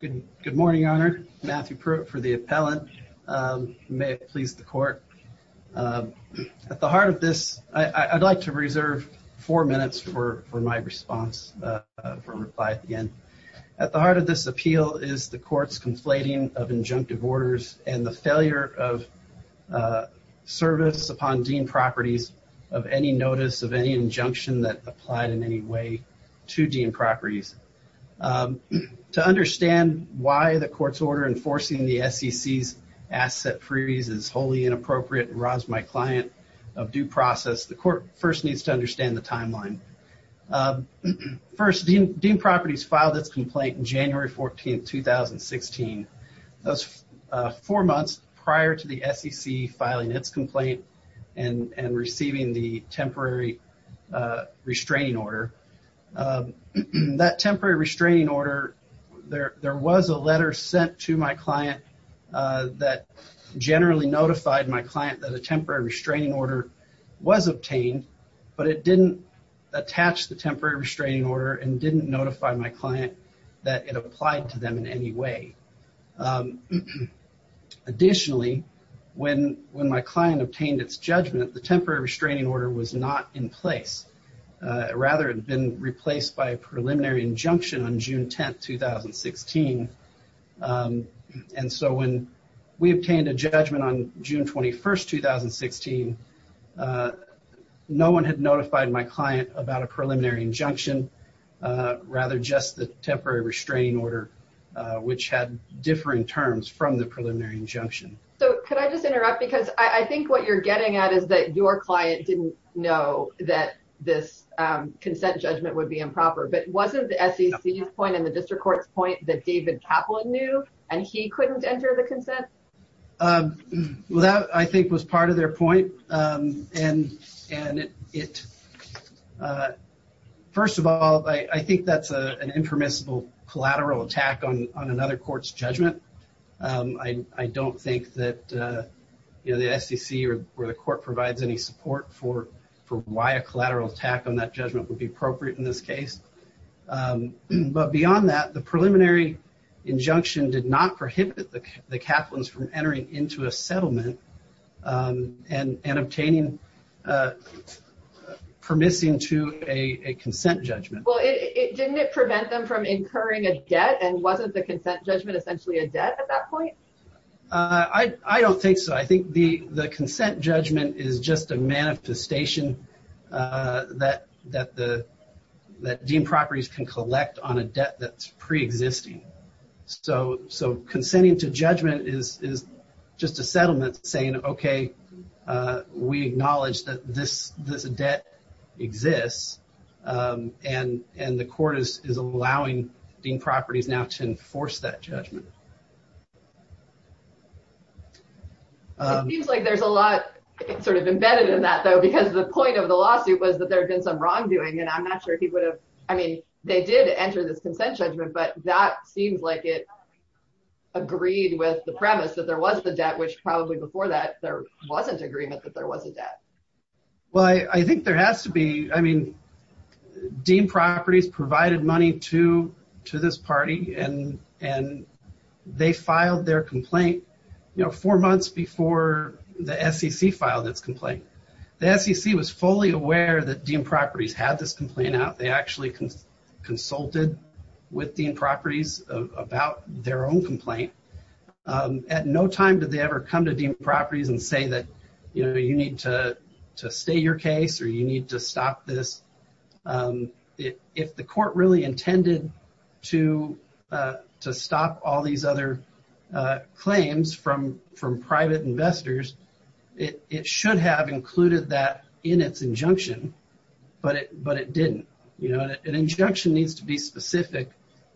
Good morning, Your Honor. Matthew Pruitt for the appellant. May it please the court. At the heart of this, I'd like to reserve four minutes for my response from reply at the end. At the heart of this appeal is the court's conflating of injunctive orders and the failure of service upon Dean Properties of any notice of any injunction that applied in any way to Dean Properties. To understand why the court's order enforcing the SEC's asset freeze is wholly inappropriate and robs my client of due process, the court first needs to understand the timeline. First, Dean Properties filed its complaint in January 14th, 2016. That's four months prior to the SEC filing its complaint and and receiving the temporary restraining order. That temporary restraining order, there was a letter sent to my client that generally notified my client that a temporary restraining order was obtained, but it didn't attach the temporary restraining order and didn't notify my client that it applied to them in any way. Additionally, when my client obtained its judgment, the temporary restraining order was not in place. Rather, it had been on June 10th, 2016, and so when we obtained a judgment on June 21st, 2016, no one had notified my client about a preliminary injunction, rather just the temporary restraining order, which had differing terms from the preliminary injunction. So, could I just interrupt? Because I think what you're getting at is that your client didn't know that this consent judgment would be improper, but wasn't the SEC's point and the district court's point that David Kaplan knew and he couldn't enter the consent? Well, that, I think, was part of their point, and first of all, I think that's an impermissible collateral attack on another court's judgment. I don't think that, you know, the SEC or the court provides any support for why a collateral attack on that judgment would be appropriate in this case. But beyond that, the preliminary injunction did not prohibit the Kaplans from entering into a settlement and obtaining permissing to a consent judgment. Well, didn't it prevent them from incurring a debt, and wasn't the consent judgment essentially a debt at that point? I don't think so. I think the the consent judgment is just a manifestation that deemed properties can collect on a debt that's pre-existing. So, consenting to judgment is just a settlement saying, okay, we acknowledge that this debt exists, and the court is allowing deemed properties now to enforce that judgment. It seems like there's a lot sort of embedded in that, though, because the point of the lawsuit was that there had been some wrongdoing, and I'm not sure he would have, I mean, they did enter this consent judgment, but that seems like it agreed with the premise that there was the debt, which probably before that, there wasn't agreement that there was a debt. Well, I think there has to be. I mean, deemed properties provided money to this party, and they filed their complaint, you know, four months before the SEC filed its complaint. The SEC was fully aware that deemed properties had this complaint out. They actually consulted with deemed properties about their own complaint. At no time did they ever come to deemed properties and say that, you know, you need to stay your case, or you need to stop this. If the court really intended to stop all these other claims from private investors, it should have included that in its injunction, but it didn't. You know, an injunction needs to be specific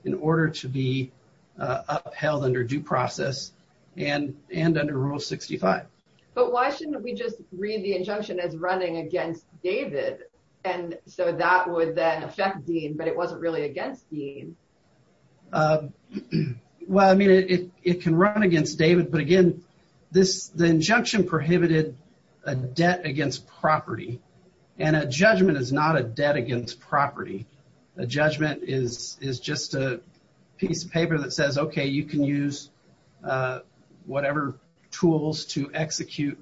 in order to be upheld under due process and under Rule 65. But why shouldn't we just read the injunction as running against David, and so that would then affect Dean, but it wasn't really against Dean? Well, I mean, it can run against David, but again, the injunction prohibited a debt against property, and a judgment is not a debt against property. A judgment is just a piece of paper that says, okay, you can use whatever tools to execute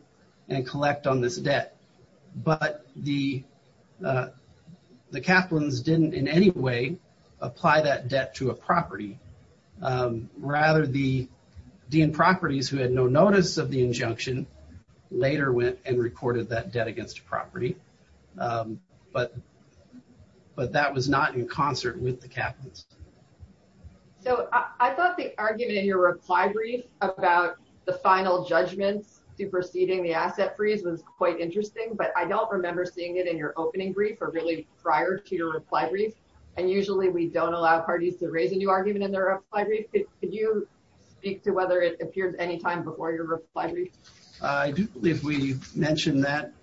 and collect on this debt, but the Kaplans didn't in any way apply that debt to a property. Rather, the dean properties, who had no notice of the injunction, later went and recorded that debt against a property, but that was not in concert with the Kaplans. So, I thought the argument in your reply brief about the final judgments superseding the asset freeze was quite interesting, but I don't remember seeing it in your opening brief or really prior to your reply brief, and usually we don't allow parties to raise a new argument in their reply brief. Could you speak to whether it appears any time before your reply brief? I do believe we mentioned that.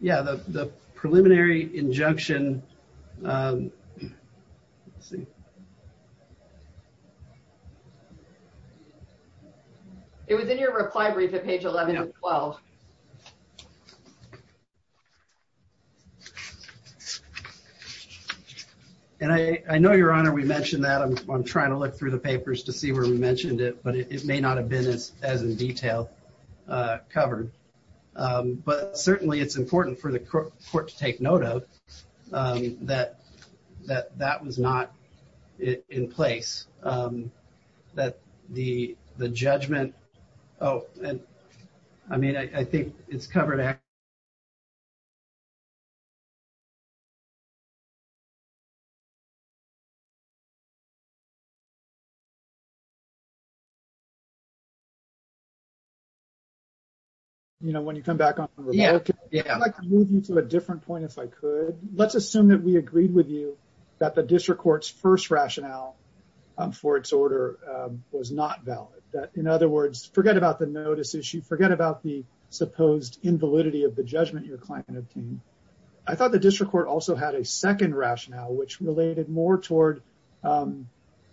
Yeah, the preliminary injunction it was in your reply brief at page 11 and 12. And I know, Your Honor, we mentioned that. I'm trying to look through the papers to see where we mentioned it, but it may not have been as in detail covered, but certainly it's note of that that was not in place. That the judgment, oh, and I mean, I think it's covered actually. You know, when you come back on the report, I'd like to move you to a different point if I could. Let's assume that we agreed with you that the district court's first rationale for its order was not valid. That, in other words, forget about the notice issue, forget about the supposed invalidity of the judgment your client obtained. I thought the district court also had a second rationale which related more toward kind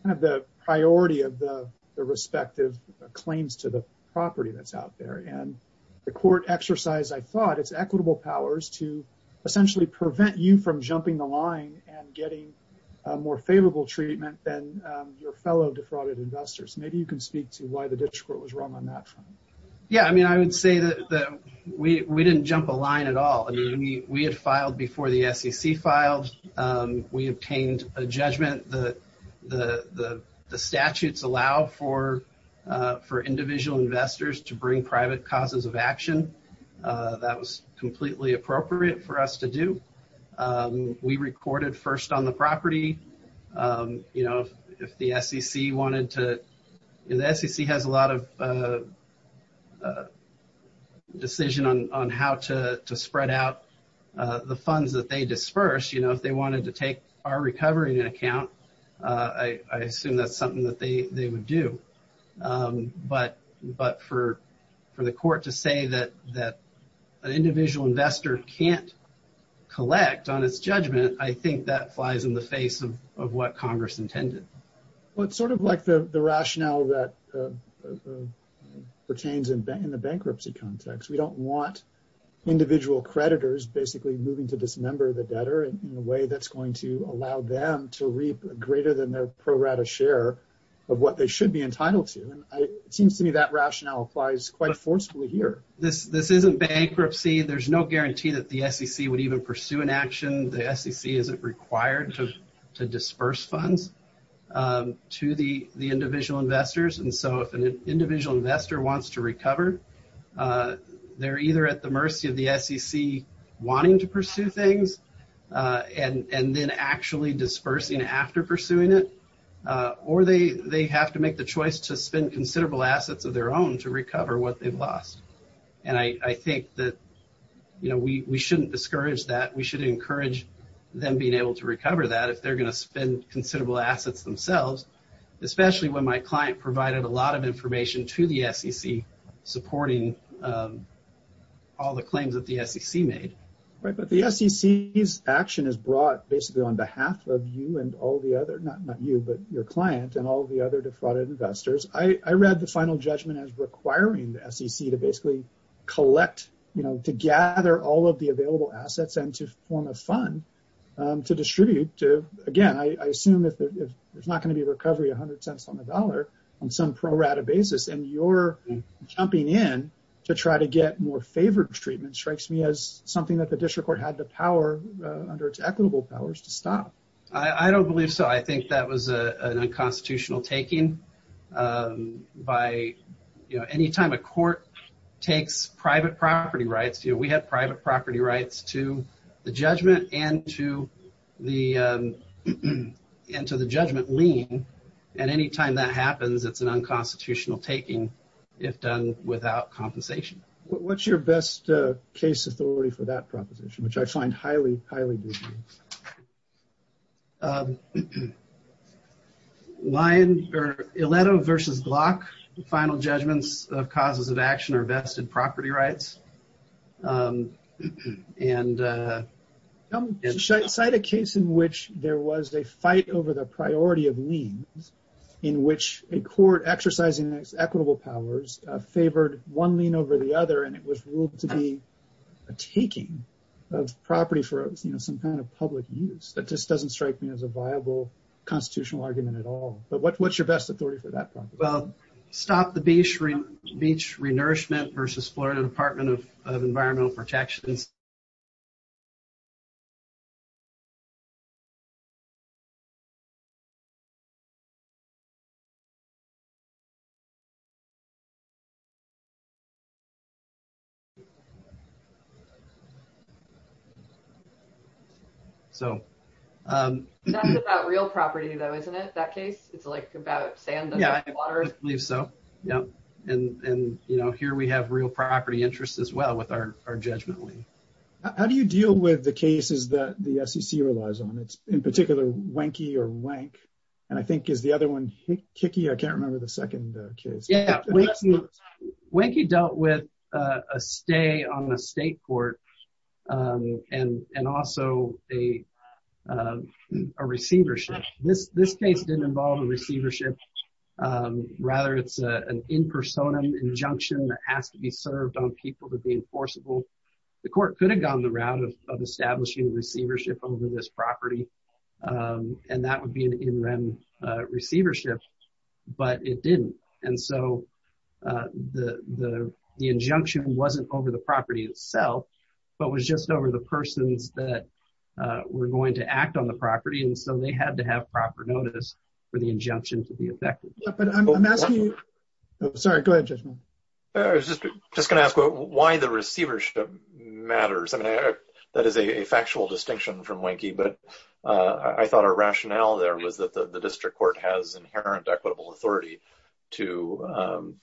of the priority of the respective claims to the property that's essentially prevent you from jumping the line and getting a more favorable treatment than your fellow defrauded investors. Maybe you can speak to why the district court was wrong on that front. Yeah, I mean, I would say that we didn't jump a line at all. I mean, we had filed before the SEC filed. We obtained a judgment that the statutes allow for individual investors to bring private causes of action. That was completely appropriate for us to do. We recorded first on the property. You know, if the SEC wanted to, the SEC has a lot of decision on how to spread out the funds that they disperse. You know, if they wanted to take our recovery in an account, I assume that's something that they would do. But for the court to say that an individual investor can't collect on its judgment, I think that flies in the face of what Congress intended. Well, it's sort of like the rationale that pertains in the bankruptcy context. We don't want individual creditors basically moving to dismember the debtor in a way that's going to allow them to reap greater than a pro rata share of what they should be entitled to. And it seems to me that rationale applies quite forcefully here. This isn't bankruptcy. There's no guarantee that the SEC would even pursue an action. The SEC isn't required to disperse funds to the individual investors. And so if an individual investor wants to recover, they're either at the mercy of the SEC wanting to pursue things and then actually dispersing after pursuing it, or they have to make the choice to spend considerable assets of their own to recover what they've lost. And I think that, you know, we shouldn't discourage that. We should encourage them being able to recover that if they're going to spend considerable assets themselves, especially when my client provided a lot of information to the SEC, supporting all the claims that the SEC made. Right, but the SEC's action is brought basically on behalf of you and all the other not not you, but your client and all the other defrauded investors. I read the final judgment as requiring the SEC to basically collect, you know, to gather all of the available assets and to form a fund to distribute to again, I assume if there's not going to be recovery 100 cents on the dollar on some pro rata basis, and you're jumping in to try to get more favored treatment strikes me as something that the district court had the power under its equitable powers to stop. I don't believe so. I think that was a constitutional taking by, you know, anytime a court takes private property rights, you know, we have private property rights to the judgment and to the end to the judgment lien. And anytime that happens, it's an unconstitutional taking, if done without compensation. What's your best case authority for that proposition, which I find highly, highly lion or a letter versus block, the final judgments of causes of action or vested property rights. And cite a case in which there was a fight over the priority of liens, in which a court exercising its equitable powers favored one lien over the other, and it was ruled to be a taking of property for, you know, some kind of public use that just doesn't strike me as a viable constitutional argument at all. But what what's your best authority for that problem? Well, stop the beach, beach renourishment versus Florida Department of Environmental Protections. So real property, though, isn't it that case? It's like about saying, yeah, I believe so. Yeah. And, and, you know, here we have real property interests as well with our judgment lien. How do you deal with the cases that the SEC relies on? It's in particular wanky or wank. And I think is the other one kicky. I can't remember the second case. Wanky dealt with a stay on the state court. And, and also a receivership. This this case didn't involve a receivership. Rather, it's an in personam injunction that has to be served on people to be enforceable. The court could have gone the route of establishing receivership over this property. And that would be an in rem receivership, but it didn't. And so the the the injunction wasn't over the property itself, but was just over the persons that were going to act on the property. And so they had to have proper notice for the injunction to be effective. Sorry, go ahead. I was just just going to ask why the receivership matters. I mean, that is a factual distinction from wanky. But I thought a rationale there was that the district court has inherent equitable authority to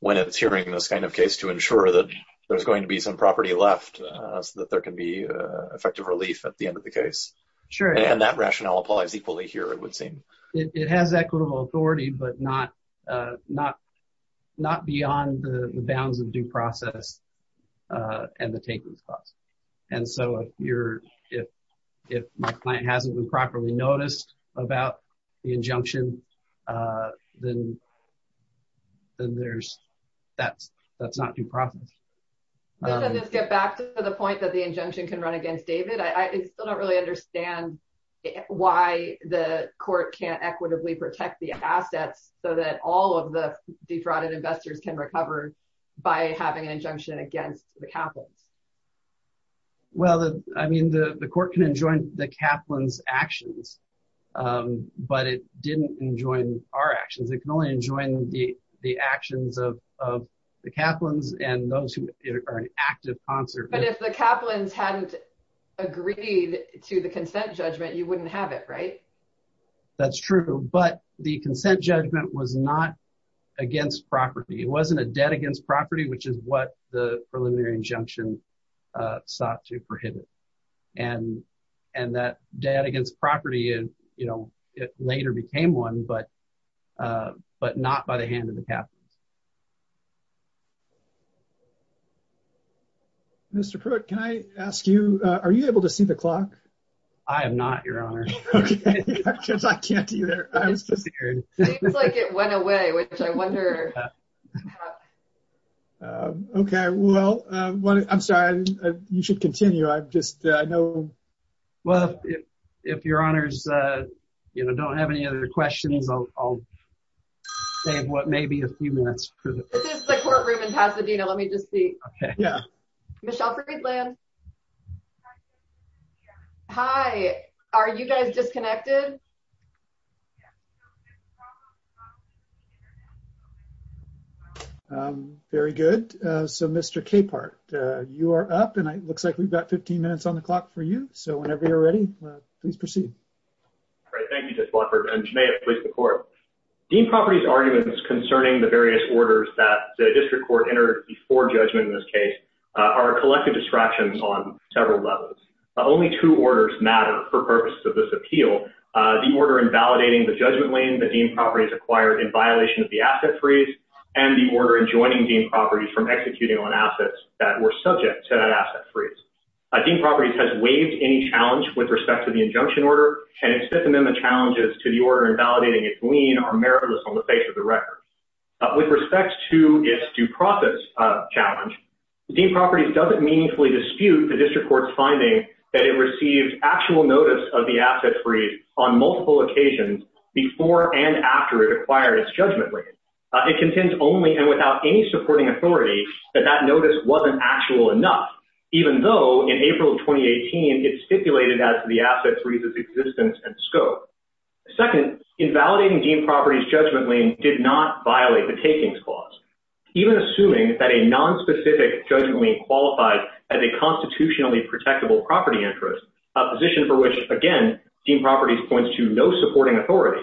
when it's hearing this kind of case to ensure that there's going to be some property left so that there can be effective relief at the end of the case. Sure. And that rationale applies equally here, it would seem. It has equitable authority, but not not not beyond the bounds of due process. And the taking spots. And so if you're, if, if my client hasn't been properly noticed about the injunction, then Then there's that's that's not due process. Let's get back to the point that the injunction can run against David, I still don't really understand why the court can't equitably protect the assets so that all of the defrauded investors can recover by having an injunction against the capital. Well, I mean, the court can enjoin the Kaplan's actions. But it didn't enjoy our actions. It can only enjoy the the actions of the Kaplan's and those who are an active concert. But if the Kaplan's hadn't agreed to the consent judgment, you wouldn't have it right That's true, but the consent judgment was not against property. It wasn't a debt against property, which is what the preliminary injunction. sought to prohibit and and that debt against property. And, you know, it later became one but But not by the hand of the Kaplan's Mr. Pruitt, can I ask you, are you able to see the clock. I am not, Your Honor. I can't either. It's like it went away, which I wonder Okay, well, I'm sorry. You should continue. I've just, I know. Well, if, if Your Honor's, you know, don't have any other questions, I'll Save what maybe a few minutes for the courtroom in Pasadena. Let me just see. Okay, yeah, Michelle Friedland Hi. Are you guys disconnected. Very good. So, Mr. Capehart, you are up. And it looks like we've got 15 minutes on the clock for you. So whenever you're ready, please proceed. All right. Thank you, Mr. Blufford. And Jenea, please, the court. Dean properties arguments concerning the various orders that the district court entered before judgment in this case are collective distractions on several levels. Only two orders matter for purposes of this appeal. The order invalidating the judgment lane, the dean properties acquired in violation of the asset freeze. And the order and joining the property from executing on assets that were subject to that asset freeze. A dean properties has waived any challenge with respect to the injunction order and its Fifth Amendment challenges to the order invalidating its lien are meritless on the face of the record. With respect to its due process challenge dean properties doesn't meaningfully dispute the district court's finding that it received actual notice of the asset freeze on multiple occasions before and after it acquired its judgment. It contains only and without any supporting authority that that notice wasn't actual enough, even though in April 2018 it's stipulated as the asset freezes existence and scope. Second, invalidating dean properties judgment lane did not violate the takings clause, even assuming that a nonspecific judgment lane qualifies as a constitutionally protectable property interest position for which again dean properties points to no supporting authority.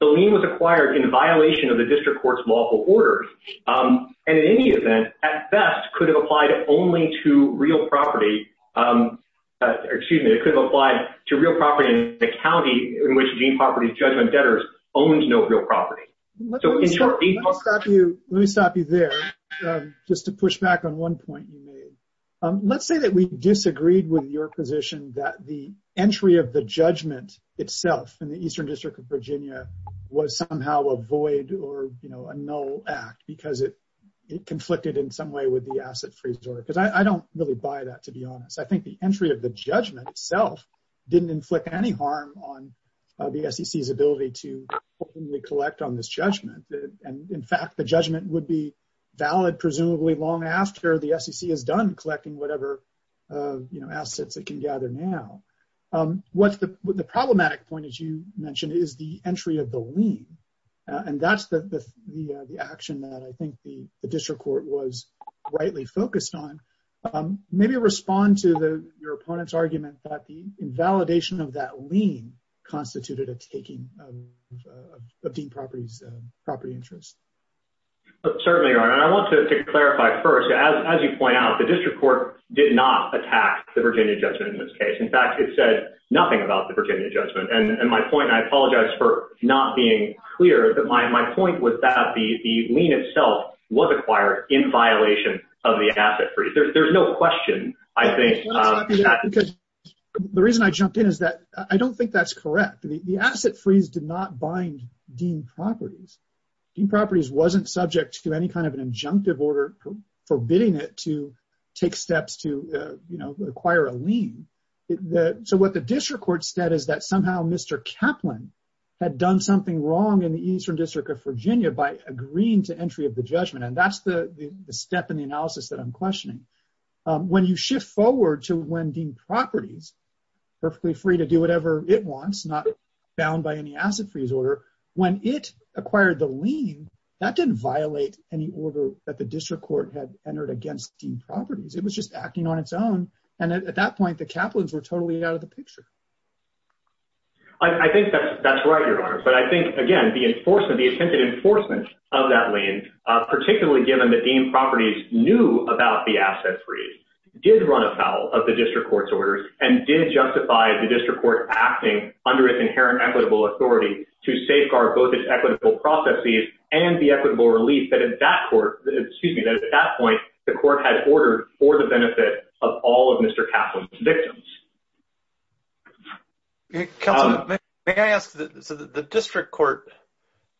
The lien was acquired in violation of the district court's lawful orders and in any event, at best, could have applied only to real property. Excuse me, it could apply to real property in the county in which dean properties judgment debtors owns no real property. So, in short, these are. Stop you. Let me stop you there just to push back on one point you made. Let's say that we disagreed with your position that the entry of the judgment itself in the eastern district of Virginia was somehow avoid or, you know, a no act because it I think the entry of the judgment itself didn't inflict any harm on the SEC ability to Collect on this judgment. And in fact, the judgment would be valid presumably long after the SEC has done collecting whatever You know assets that can gather. Now what's the problematic point is you mentioned is the entry of the lean and that's the The action that I think the district court was rightly focused on maybe respond to the your opponent's argument that the invalidation of that lean constituted a taking Of the properties property interest. Certainly, I want to clarify. First, as you point out the district court did not attack the Virginia judgment in this case. In fact, it said nothing about the Virginia judgment and my point. I apologize for not being clear that my point was The lean itself was acquired in violation of the asset free. There's no question, I think. The reason I jumped in is that I don't think that's correct. The asset freeze did not bind Dean properties properties wasn't subject to any kind of an injunctive order. Forbidding it to take steps to, you know, acquire a lean that so what the district court status that somehow Mr Kaplan Had done something wrong in the Eastern District of Virginia by agreeing to entry of the judgment. And that's the step in the analysis that I'm questioning. When you shift forward to when Dean properties perfectly free to do whatever it wants, not Bound by any asset freeze order when it acquired the lean that didn't violate any order that the district court had entered against the properties. It was just acting on its own. And at that point, the Kaplan's were totally out of the picture. I think that's, that's right, your honor. But I think, again, the enforcement, the attempted enforcement of that lane, particularly given the dean properties knew about the asset freeze. Did run afoul of the district court's orders and did justify the district court acting under its inherent equitable authority to safeguard both its equitable processes and the equitable relief that at that court, excuse me, that at that point, the court had ordered for the benefit of all of Mr Kaplan's victims. Can I ask the district court.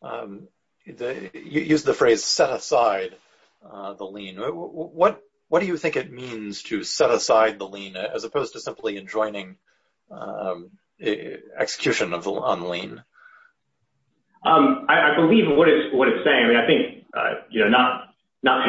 The use the phrase set aside the lean. What, what do you think it means to set aside the lean, as opposed to simply enjoining Execution of the online. I believe what is what it's saying. I think, you know, not, not,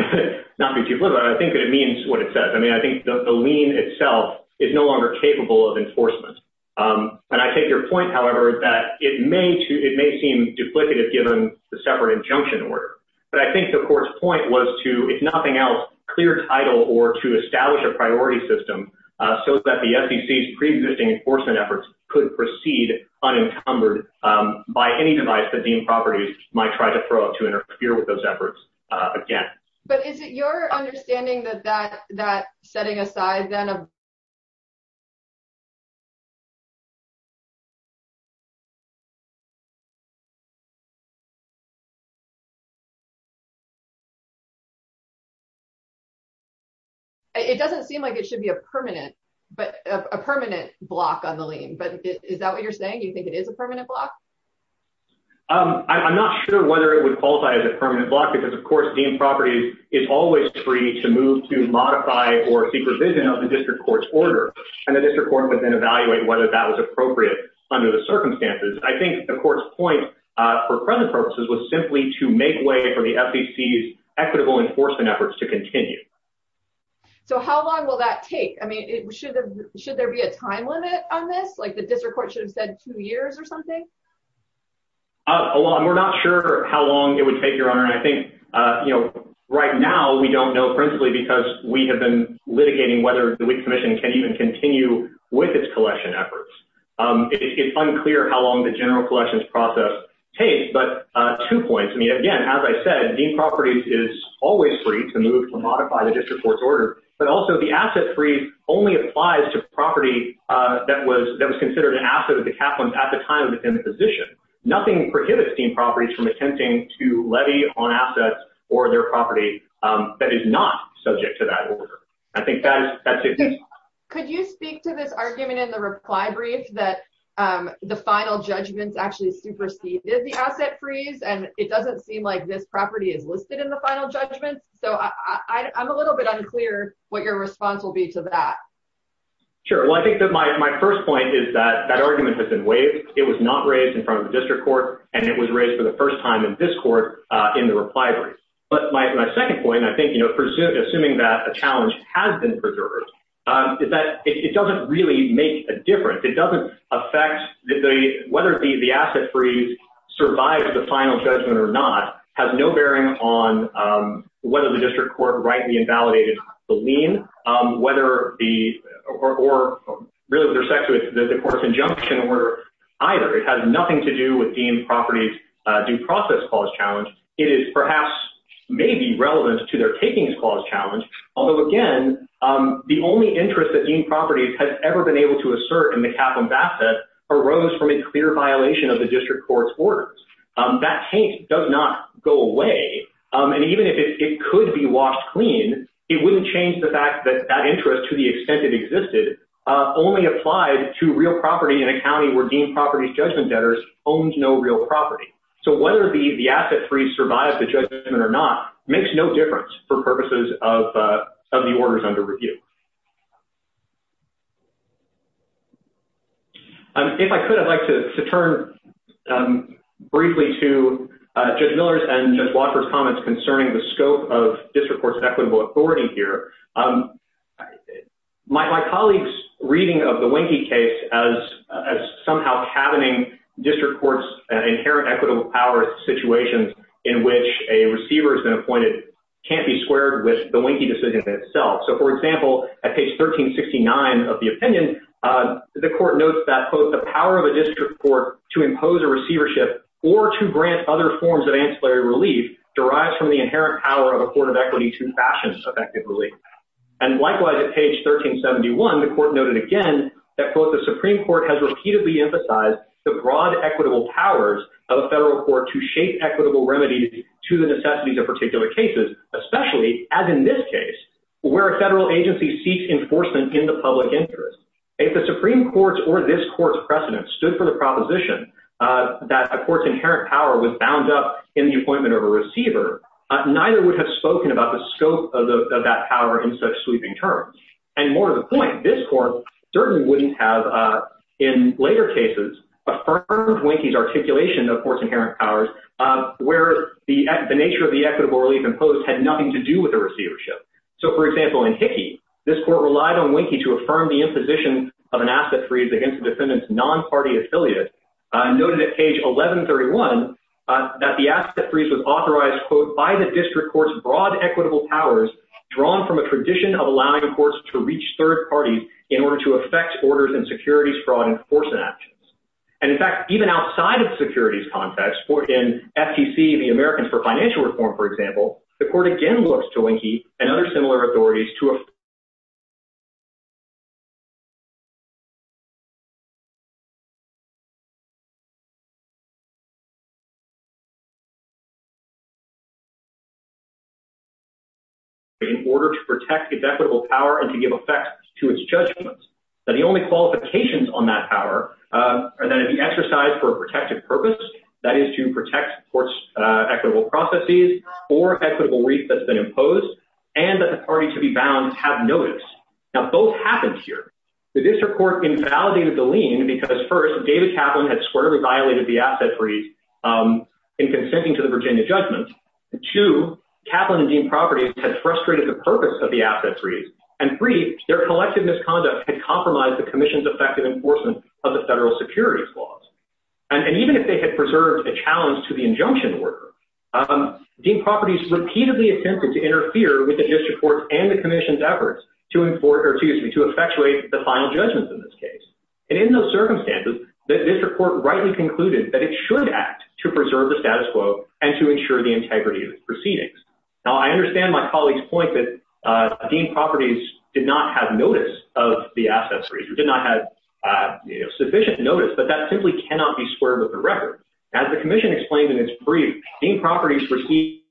not be too clear, but I think that it means what it says. I mean, I think the lean itself is no longer capable of enforcement. And I take your point. However, that it may, it may seem duplicative, given the separate injunction order, but I think the court's point was to, if nothing else, clear title or to establish a priority system. So that the SEC preexisting enforcement efforts could proceed unencumbered by any device that the properties might try to throw up to interfere with those efforts again. But is it your understanding that that that setting aside, then a It doesn't seem like it should be a permanent but a permanent block on the lane. But is that what you're saying. You think it is a permanent block. I'm not sure whether it would qualify as a permanent block because of course the properties is always free to move to modify or supervision of the district court. And the district court would then evaluate whether that was appropriate under the circumstances. I think the court's point for present purposes was simply to make way for the SEC is equitable enforcement efforts to continue So how long will that take. I mean, it should, should there be a time limit on this like the district court should have said two years or something. Along. We're not sure how long it would take your honor. And I think, you know, right now we don't know, principally because we have been litigating whether the commission can even continue with its collection efforts. It's unclear how long the general questions process takes but two points. I mean, again, as I said, the properties is always free to move to modify the district court's order, but also the asset free only applies to property. That was that was considered an asset of the capital at the time within the position. Nothing prohibits team properties from attempting to levy on assets or their property that is not subject to that. I think that's it. Could you speak to this argument in the reply brief that the final judgments actually superseded the asset freeze and it doesn't seem like this property is listed in the final judgment. So I'm a little bit unclear what your response will be to that. Sure. Well, I think that my, my 1st point is that that argument has been waived. It was not raised in front of the district court and it was raised for the 1st time in this court in the reply. But my 2nd point, I think, you know, presuming assuming that a challenge has been preserved is that it doesn't really make a difference. It doesn't affect the, whether the, the asset freeze survived the final judgment or not has no bearing on. Whether the district court rightly invalidated the lien, whether the or really their sex with the course injunction or either. It has nothing to do with being properties. Due process calls challenge. It is perhaps may be relevant to their takings clause challenge. Although again, The only interest that being properties has ever been able to assert in the capital asset arose from a clear violation of the district court's orders. That paint does not go away. And even if it could be washed clean. It wouldn't change the fact that that interest to the extent it existed. Only applied to real property in a county were deemed properties judgment debtors owns no real property. So whether the the asset free survive the judgment or not makes no difference for purposes of the orders under review. And if I could, I'd like to turn Briefly to just Miller's and just walkers comments concerning the scope of this reports equitable authority here. My colleagues reading of the winky case as as somehow happening district courts inherent equitable power situations in which a receiver has been appointed Can't be squared with the winky decisions itself. So, for example, at page 1369 of the opinion. The court notes that both the power of a district court to impose a receivership or to grant other forms of ancillary relief derives from the inherent power of affordable equity to fashion effectively. And likewise at page 1371 the court noted again that both the Supreme Court has repeatedly emphasize the broad equitable powers of federal court to shape equitable remedy to the necessities of particular cases, especially as in this case. Where a federal agency seeks enforcement in the public interest. If the Supreme Court or this course precedent stood for the proposition. That of course inherent power was bound up in the appointment of a receiver, neither would have spoken about the scope of that power in such sweeping terms. And more to the point, this court certainly wouldn't have in later cases affirmed winky articulation of course inherent powers. Where the nature of the equitable relief imposed had nothing to do with the receivership. So for example in Hickey this court relied on winky to affirm the imposition of an asset freeze against defendants non party affiliate Noted at page 1131 that the asset freeze was authorized quote by the district courts broad equitable powers. Drawn from a tradition of allowing reports to reach third parties in order to affect orders and securities fraud enforcement actions. And in fact, even outside of securities context for in FTC the Americans for Financial Reform, for example, the court again looks to winky and other similar authorities to In order to protect its equitable power and to give effect to its judgment that the only qualifications on that power. And then the exercise for protective purpose that is to protect courts equitable processes or equitable reef that's been imposed and that the party to be bound have notice now both happened here. The district court invalidated the lien because first, David Kaplan had squarely violated the asset freeze. In consenting to the Virginia judgment to Kaplan and Dean properties had frustrated the purpose of the asset freeze and three their collective misconduct and compromise the Commission's effective enforcement of the federal securities laws. And even if they had preserved a challenge to the injunction work. Dean properties repeatedly attempted to interfere with the district court and the Commission's efforts to import or to use me to effectuate the final judgment in this case. And in those circumstances that this report rightly concluded that it should act to preserve the status quo and to ensure the integrity of proceedings. Now, I understand my colleagues point that Dean properties did not have notice of the assets. We did not have Sufficient notice, but that simply cannot be squared with the record as the Commission explained in its brief in properties for He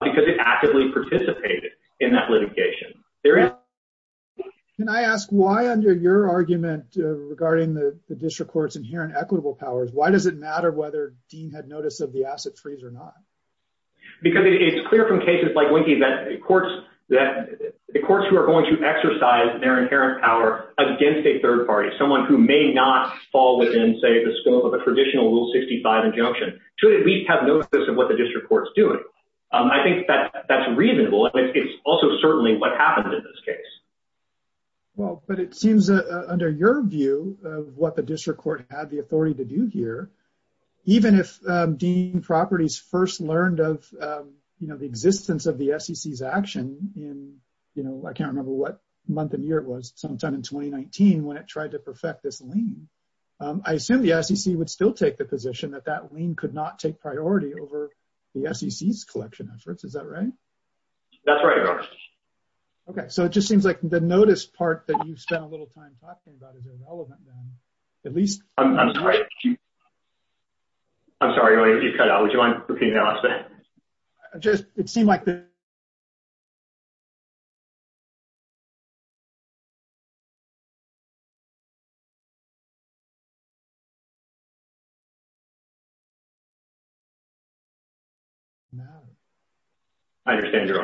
Because it actively participated in that litigation. There is Can I ask why under your argument regarding the district courts inherent equitable powers. Why does it matter whether Dean had notice of the asset freeze or not. Because it's clear from cases like wiki that courts that the courts who are going to exercise their inherent power against a third party, someone who may not fall within, say, the scope of a traditional rule 65 injunction to at least have noticed this and what the district courts doing I think that that's reasonable. And it's also certainly what happened in this case. Well, but it seems under your view of what the district court had the authority to do here, even if Dean properties first learned of You know, the existence of the SEC is action in, you know, I can't remember what month and year was sometime in 2019 when it tried to perfect this lean I assume the SEC would still take the position that that we could not take priority over the SEC is collection efforts. Is that right. That's right. Okay, so it just seems like the notice part that you spent a little time talking about is irrelevant. At least I'm sorry. I'm sorry. It seemed like It seems like you're not You're not You're not Now I understand your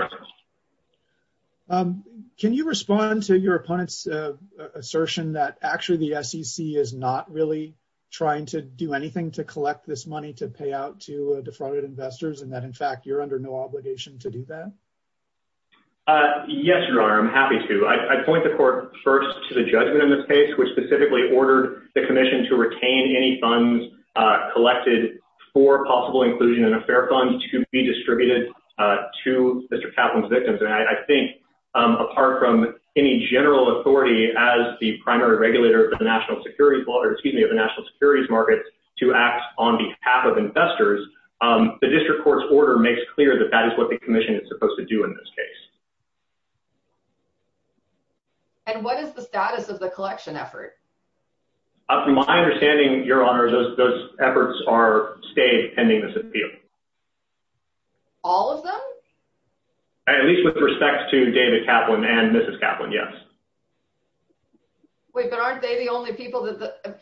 Can you respond to your opponent's Assertion that actually the SEC is not really Trying to do anything to collect this money to pay out to defrauded investors and that in fact, you're under no obligation to do that. Uh, yes, your honor. I'm happy to I point the court first to the judgment in this case, which specifically ordered the commission to retain any funds. Collected for possible inclusion and a fair fund to be distributed to Mr Kaplan's victims. And I think Apart from any general authority as the primary regulator of the national security law or excuse me of the national securities markets to act on behalf of investors. Um, the district court's order makes clear that that is what the commission is supposed to do in this case. And what is the status of the collection effort My understanding your honor those efforts are stayed pending this appeal All of them At least with respect to David Kaplan and Mrs. Kaplan. Yes Wait, but aren't they the only people that the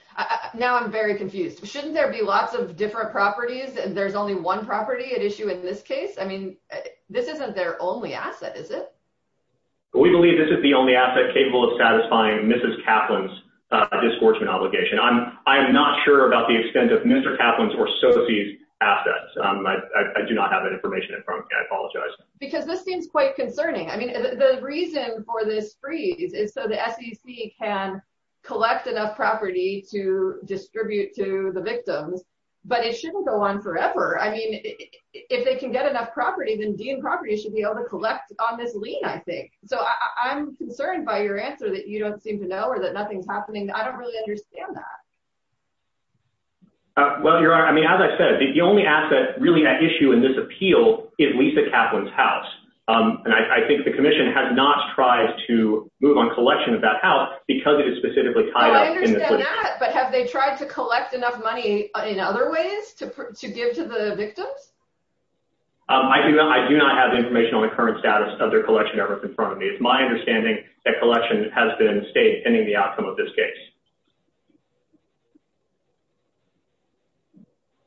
Now I'm very confused. Shouldn't there be lots of different properties and there's only one property at issue in this case. I mean This isn't their only asset. Is it? We believe this is the only asset capable of satisfying Mrs Kaplan's Discouragement obligation. I'm I'm not sure about the extent of Mr Kaplan's or so these assets. Um, I Do not have that information in front. I apologize because this seems quite concerning. I mean the reason for this freeze is so the SEC can Collect enough property to distribute to the victims, but it shouldn't go on forever. I mean If they can get enough property then dean property should be able to collect on this lien I think so i'm concerned by your answer that you don't seem to know or that nothing's happening. I don't really understand that Uh, well your honor, I mean as I said the only asset really at issue in this appeal is Lisa Kaplan's house Um, and I think the commission has not tried to move on collection of that house because it is specifically tied up But have they tried to collect enough money in other ways to to give to the victims? Um, I do I do not have information on the current status of their collection ever confirmed It's my understanding that collection has been stayed pending the outcome of this case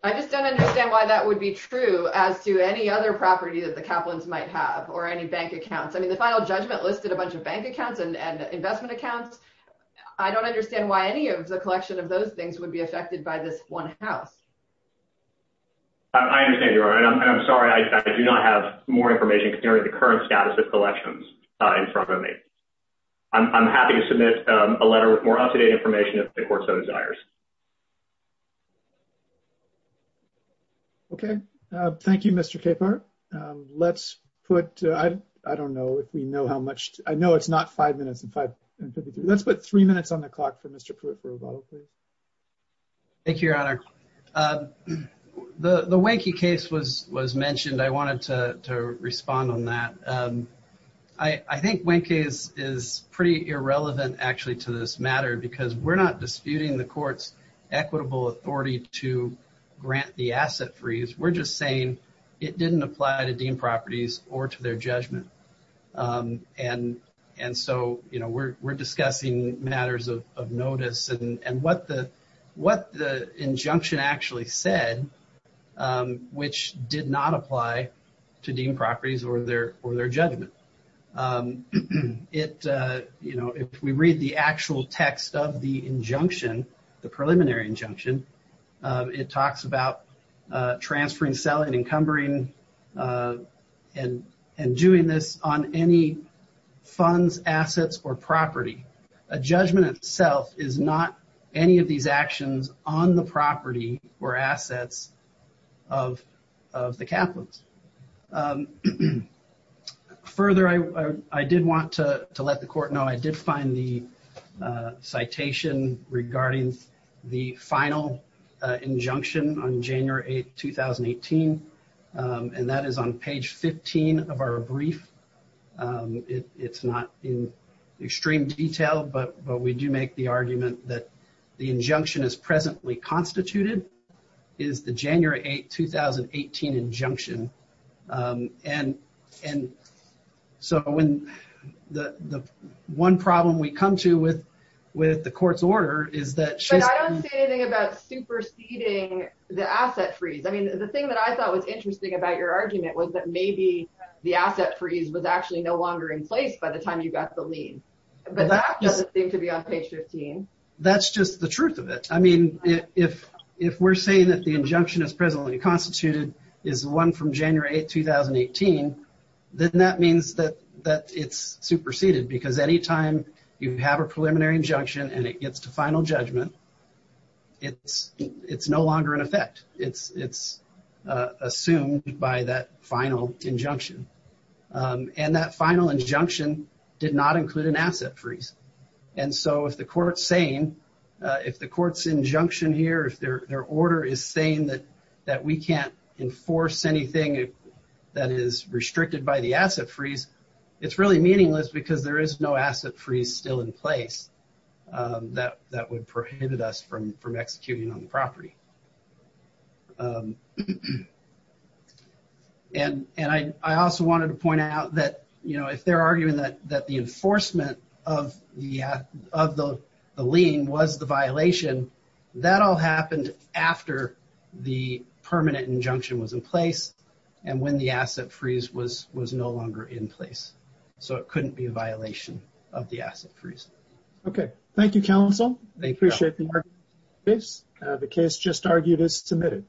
I Just don't understand why that would be true As to any other property that the Kaplan's might have or any bank accounts I mean the final judgment listed a bunch of bank accounts and investment accounts I don't understand why any of the collection of those things would be affected by this one house I understand your honor and i'm sorry. I do not have more information considering the current status of collections, uh in front of me I'm happy to submit a letter with more up-to-date information if the court so desires Okay, uh, thank you, mr. Capar Let's put I I don't know if we know how much I know it's not five minutes and five Let's put three minutes on the clock for mr. Pruitt for a bottle, please Thank you, your honor. Um The the winky case was was mentioned. I wanted to to respond on that. Um I I think winky is is pretty irrelevant actually to this matter because we're not disputing the court's equitable authority to Grant the asset freeze. We're just saying it didn't apply to dean properties or to their judgment um, and and so, you know, we're we're discussing matters of of notice and and what the What the injunction actually said? Um, which did not apply to dean properties or their or their judgment? um It uh, you know if we read the actual text of the injunction the preliminary injunction it talks about transferring selling encumbering uh and and doing this on any funds assets or property a judgment itself is not any of these actions on the property or assets of of the capitals Um Further I I did want to to let the court know I did find the citation regarding the final injunction on january 8th 2018 And that is on page 15 of our brief um, it it's not in extreme detail, but but we do make the argument that the injunction is presently constituted Is the january 8 2018 injunction um, and and so when the the one problem we come to with with the court's order is that I don't say anything about superseding The asset freeze. I mean the thing that I thought was interesting about your argument was that maybe The asset freeze was actually no longer in place by the time you got the lien But that doesn't seem to be on page 15. That's just the truth of it I mean if if we're saying that the injunction is presently constituted is one from january 8 2018 Then that means that that it's superseded because anytime you have a preliminary injunction and it gets to final judgment It's it's no longer in effect. It's it's assumed by that final injunction And that final injunction did not include an asset freeze and so if the court's saying If the court's injunction here if their their order is saying that that we can't enforce anything That is restricted by the asset freeze. It's really meaningless because there is no asset freeze still in place Um that that would prohibit us from from executing on the property And and I I also wanted to point out that you know, if they're arguing that that the enforcement of the Of the the lien was the violation that all happened after The permanent injunction was in place and when the asset freeze was was no longer in place So it couldn't be a violation of the asset freeze Okay. Thank you. Counsel. I appreciate the argument The case just argued is submitted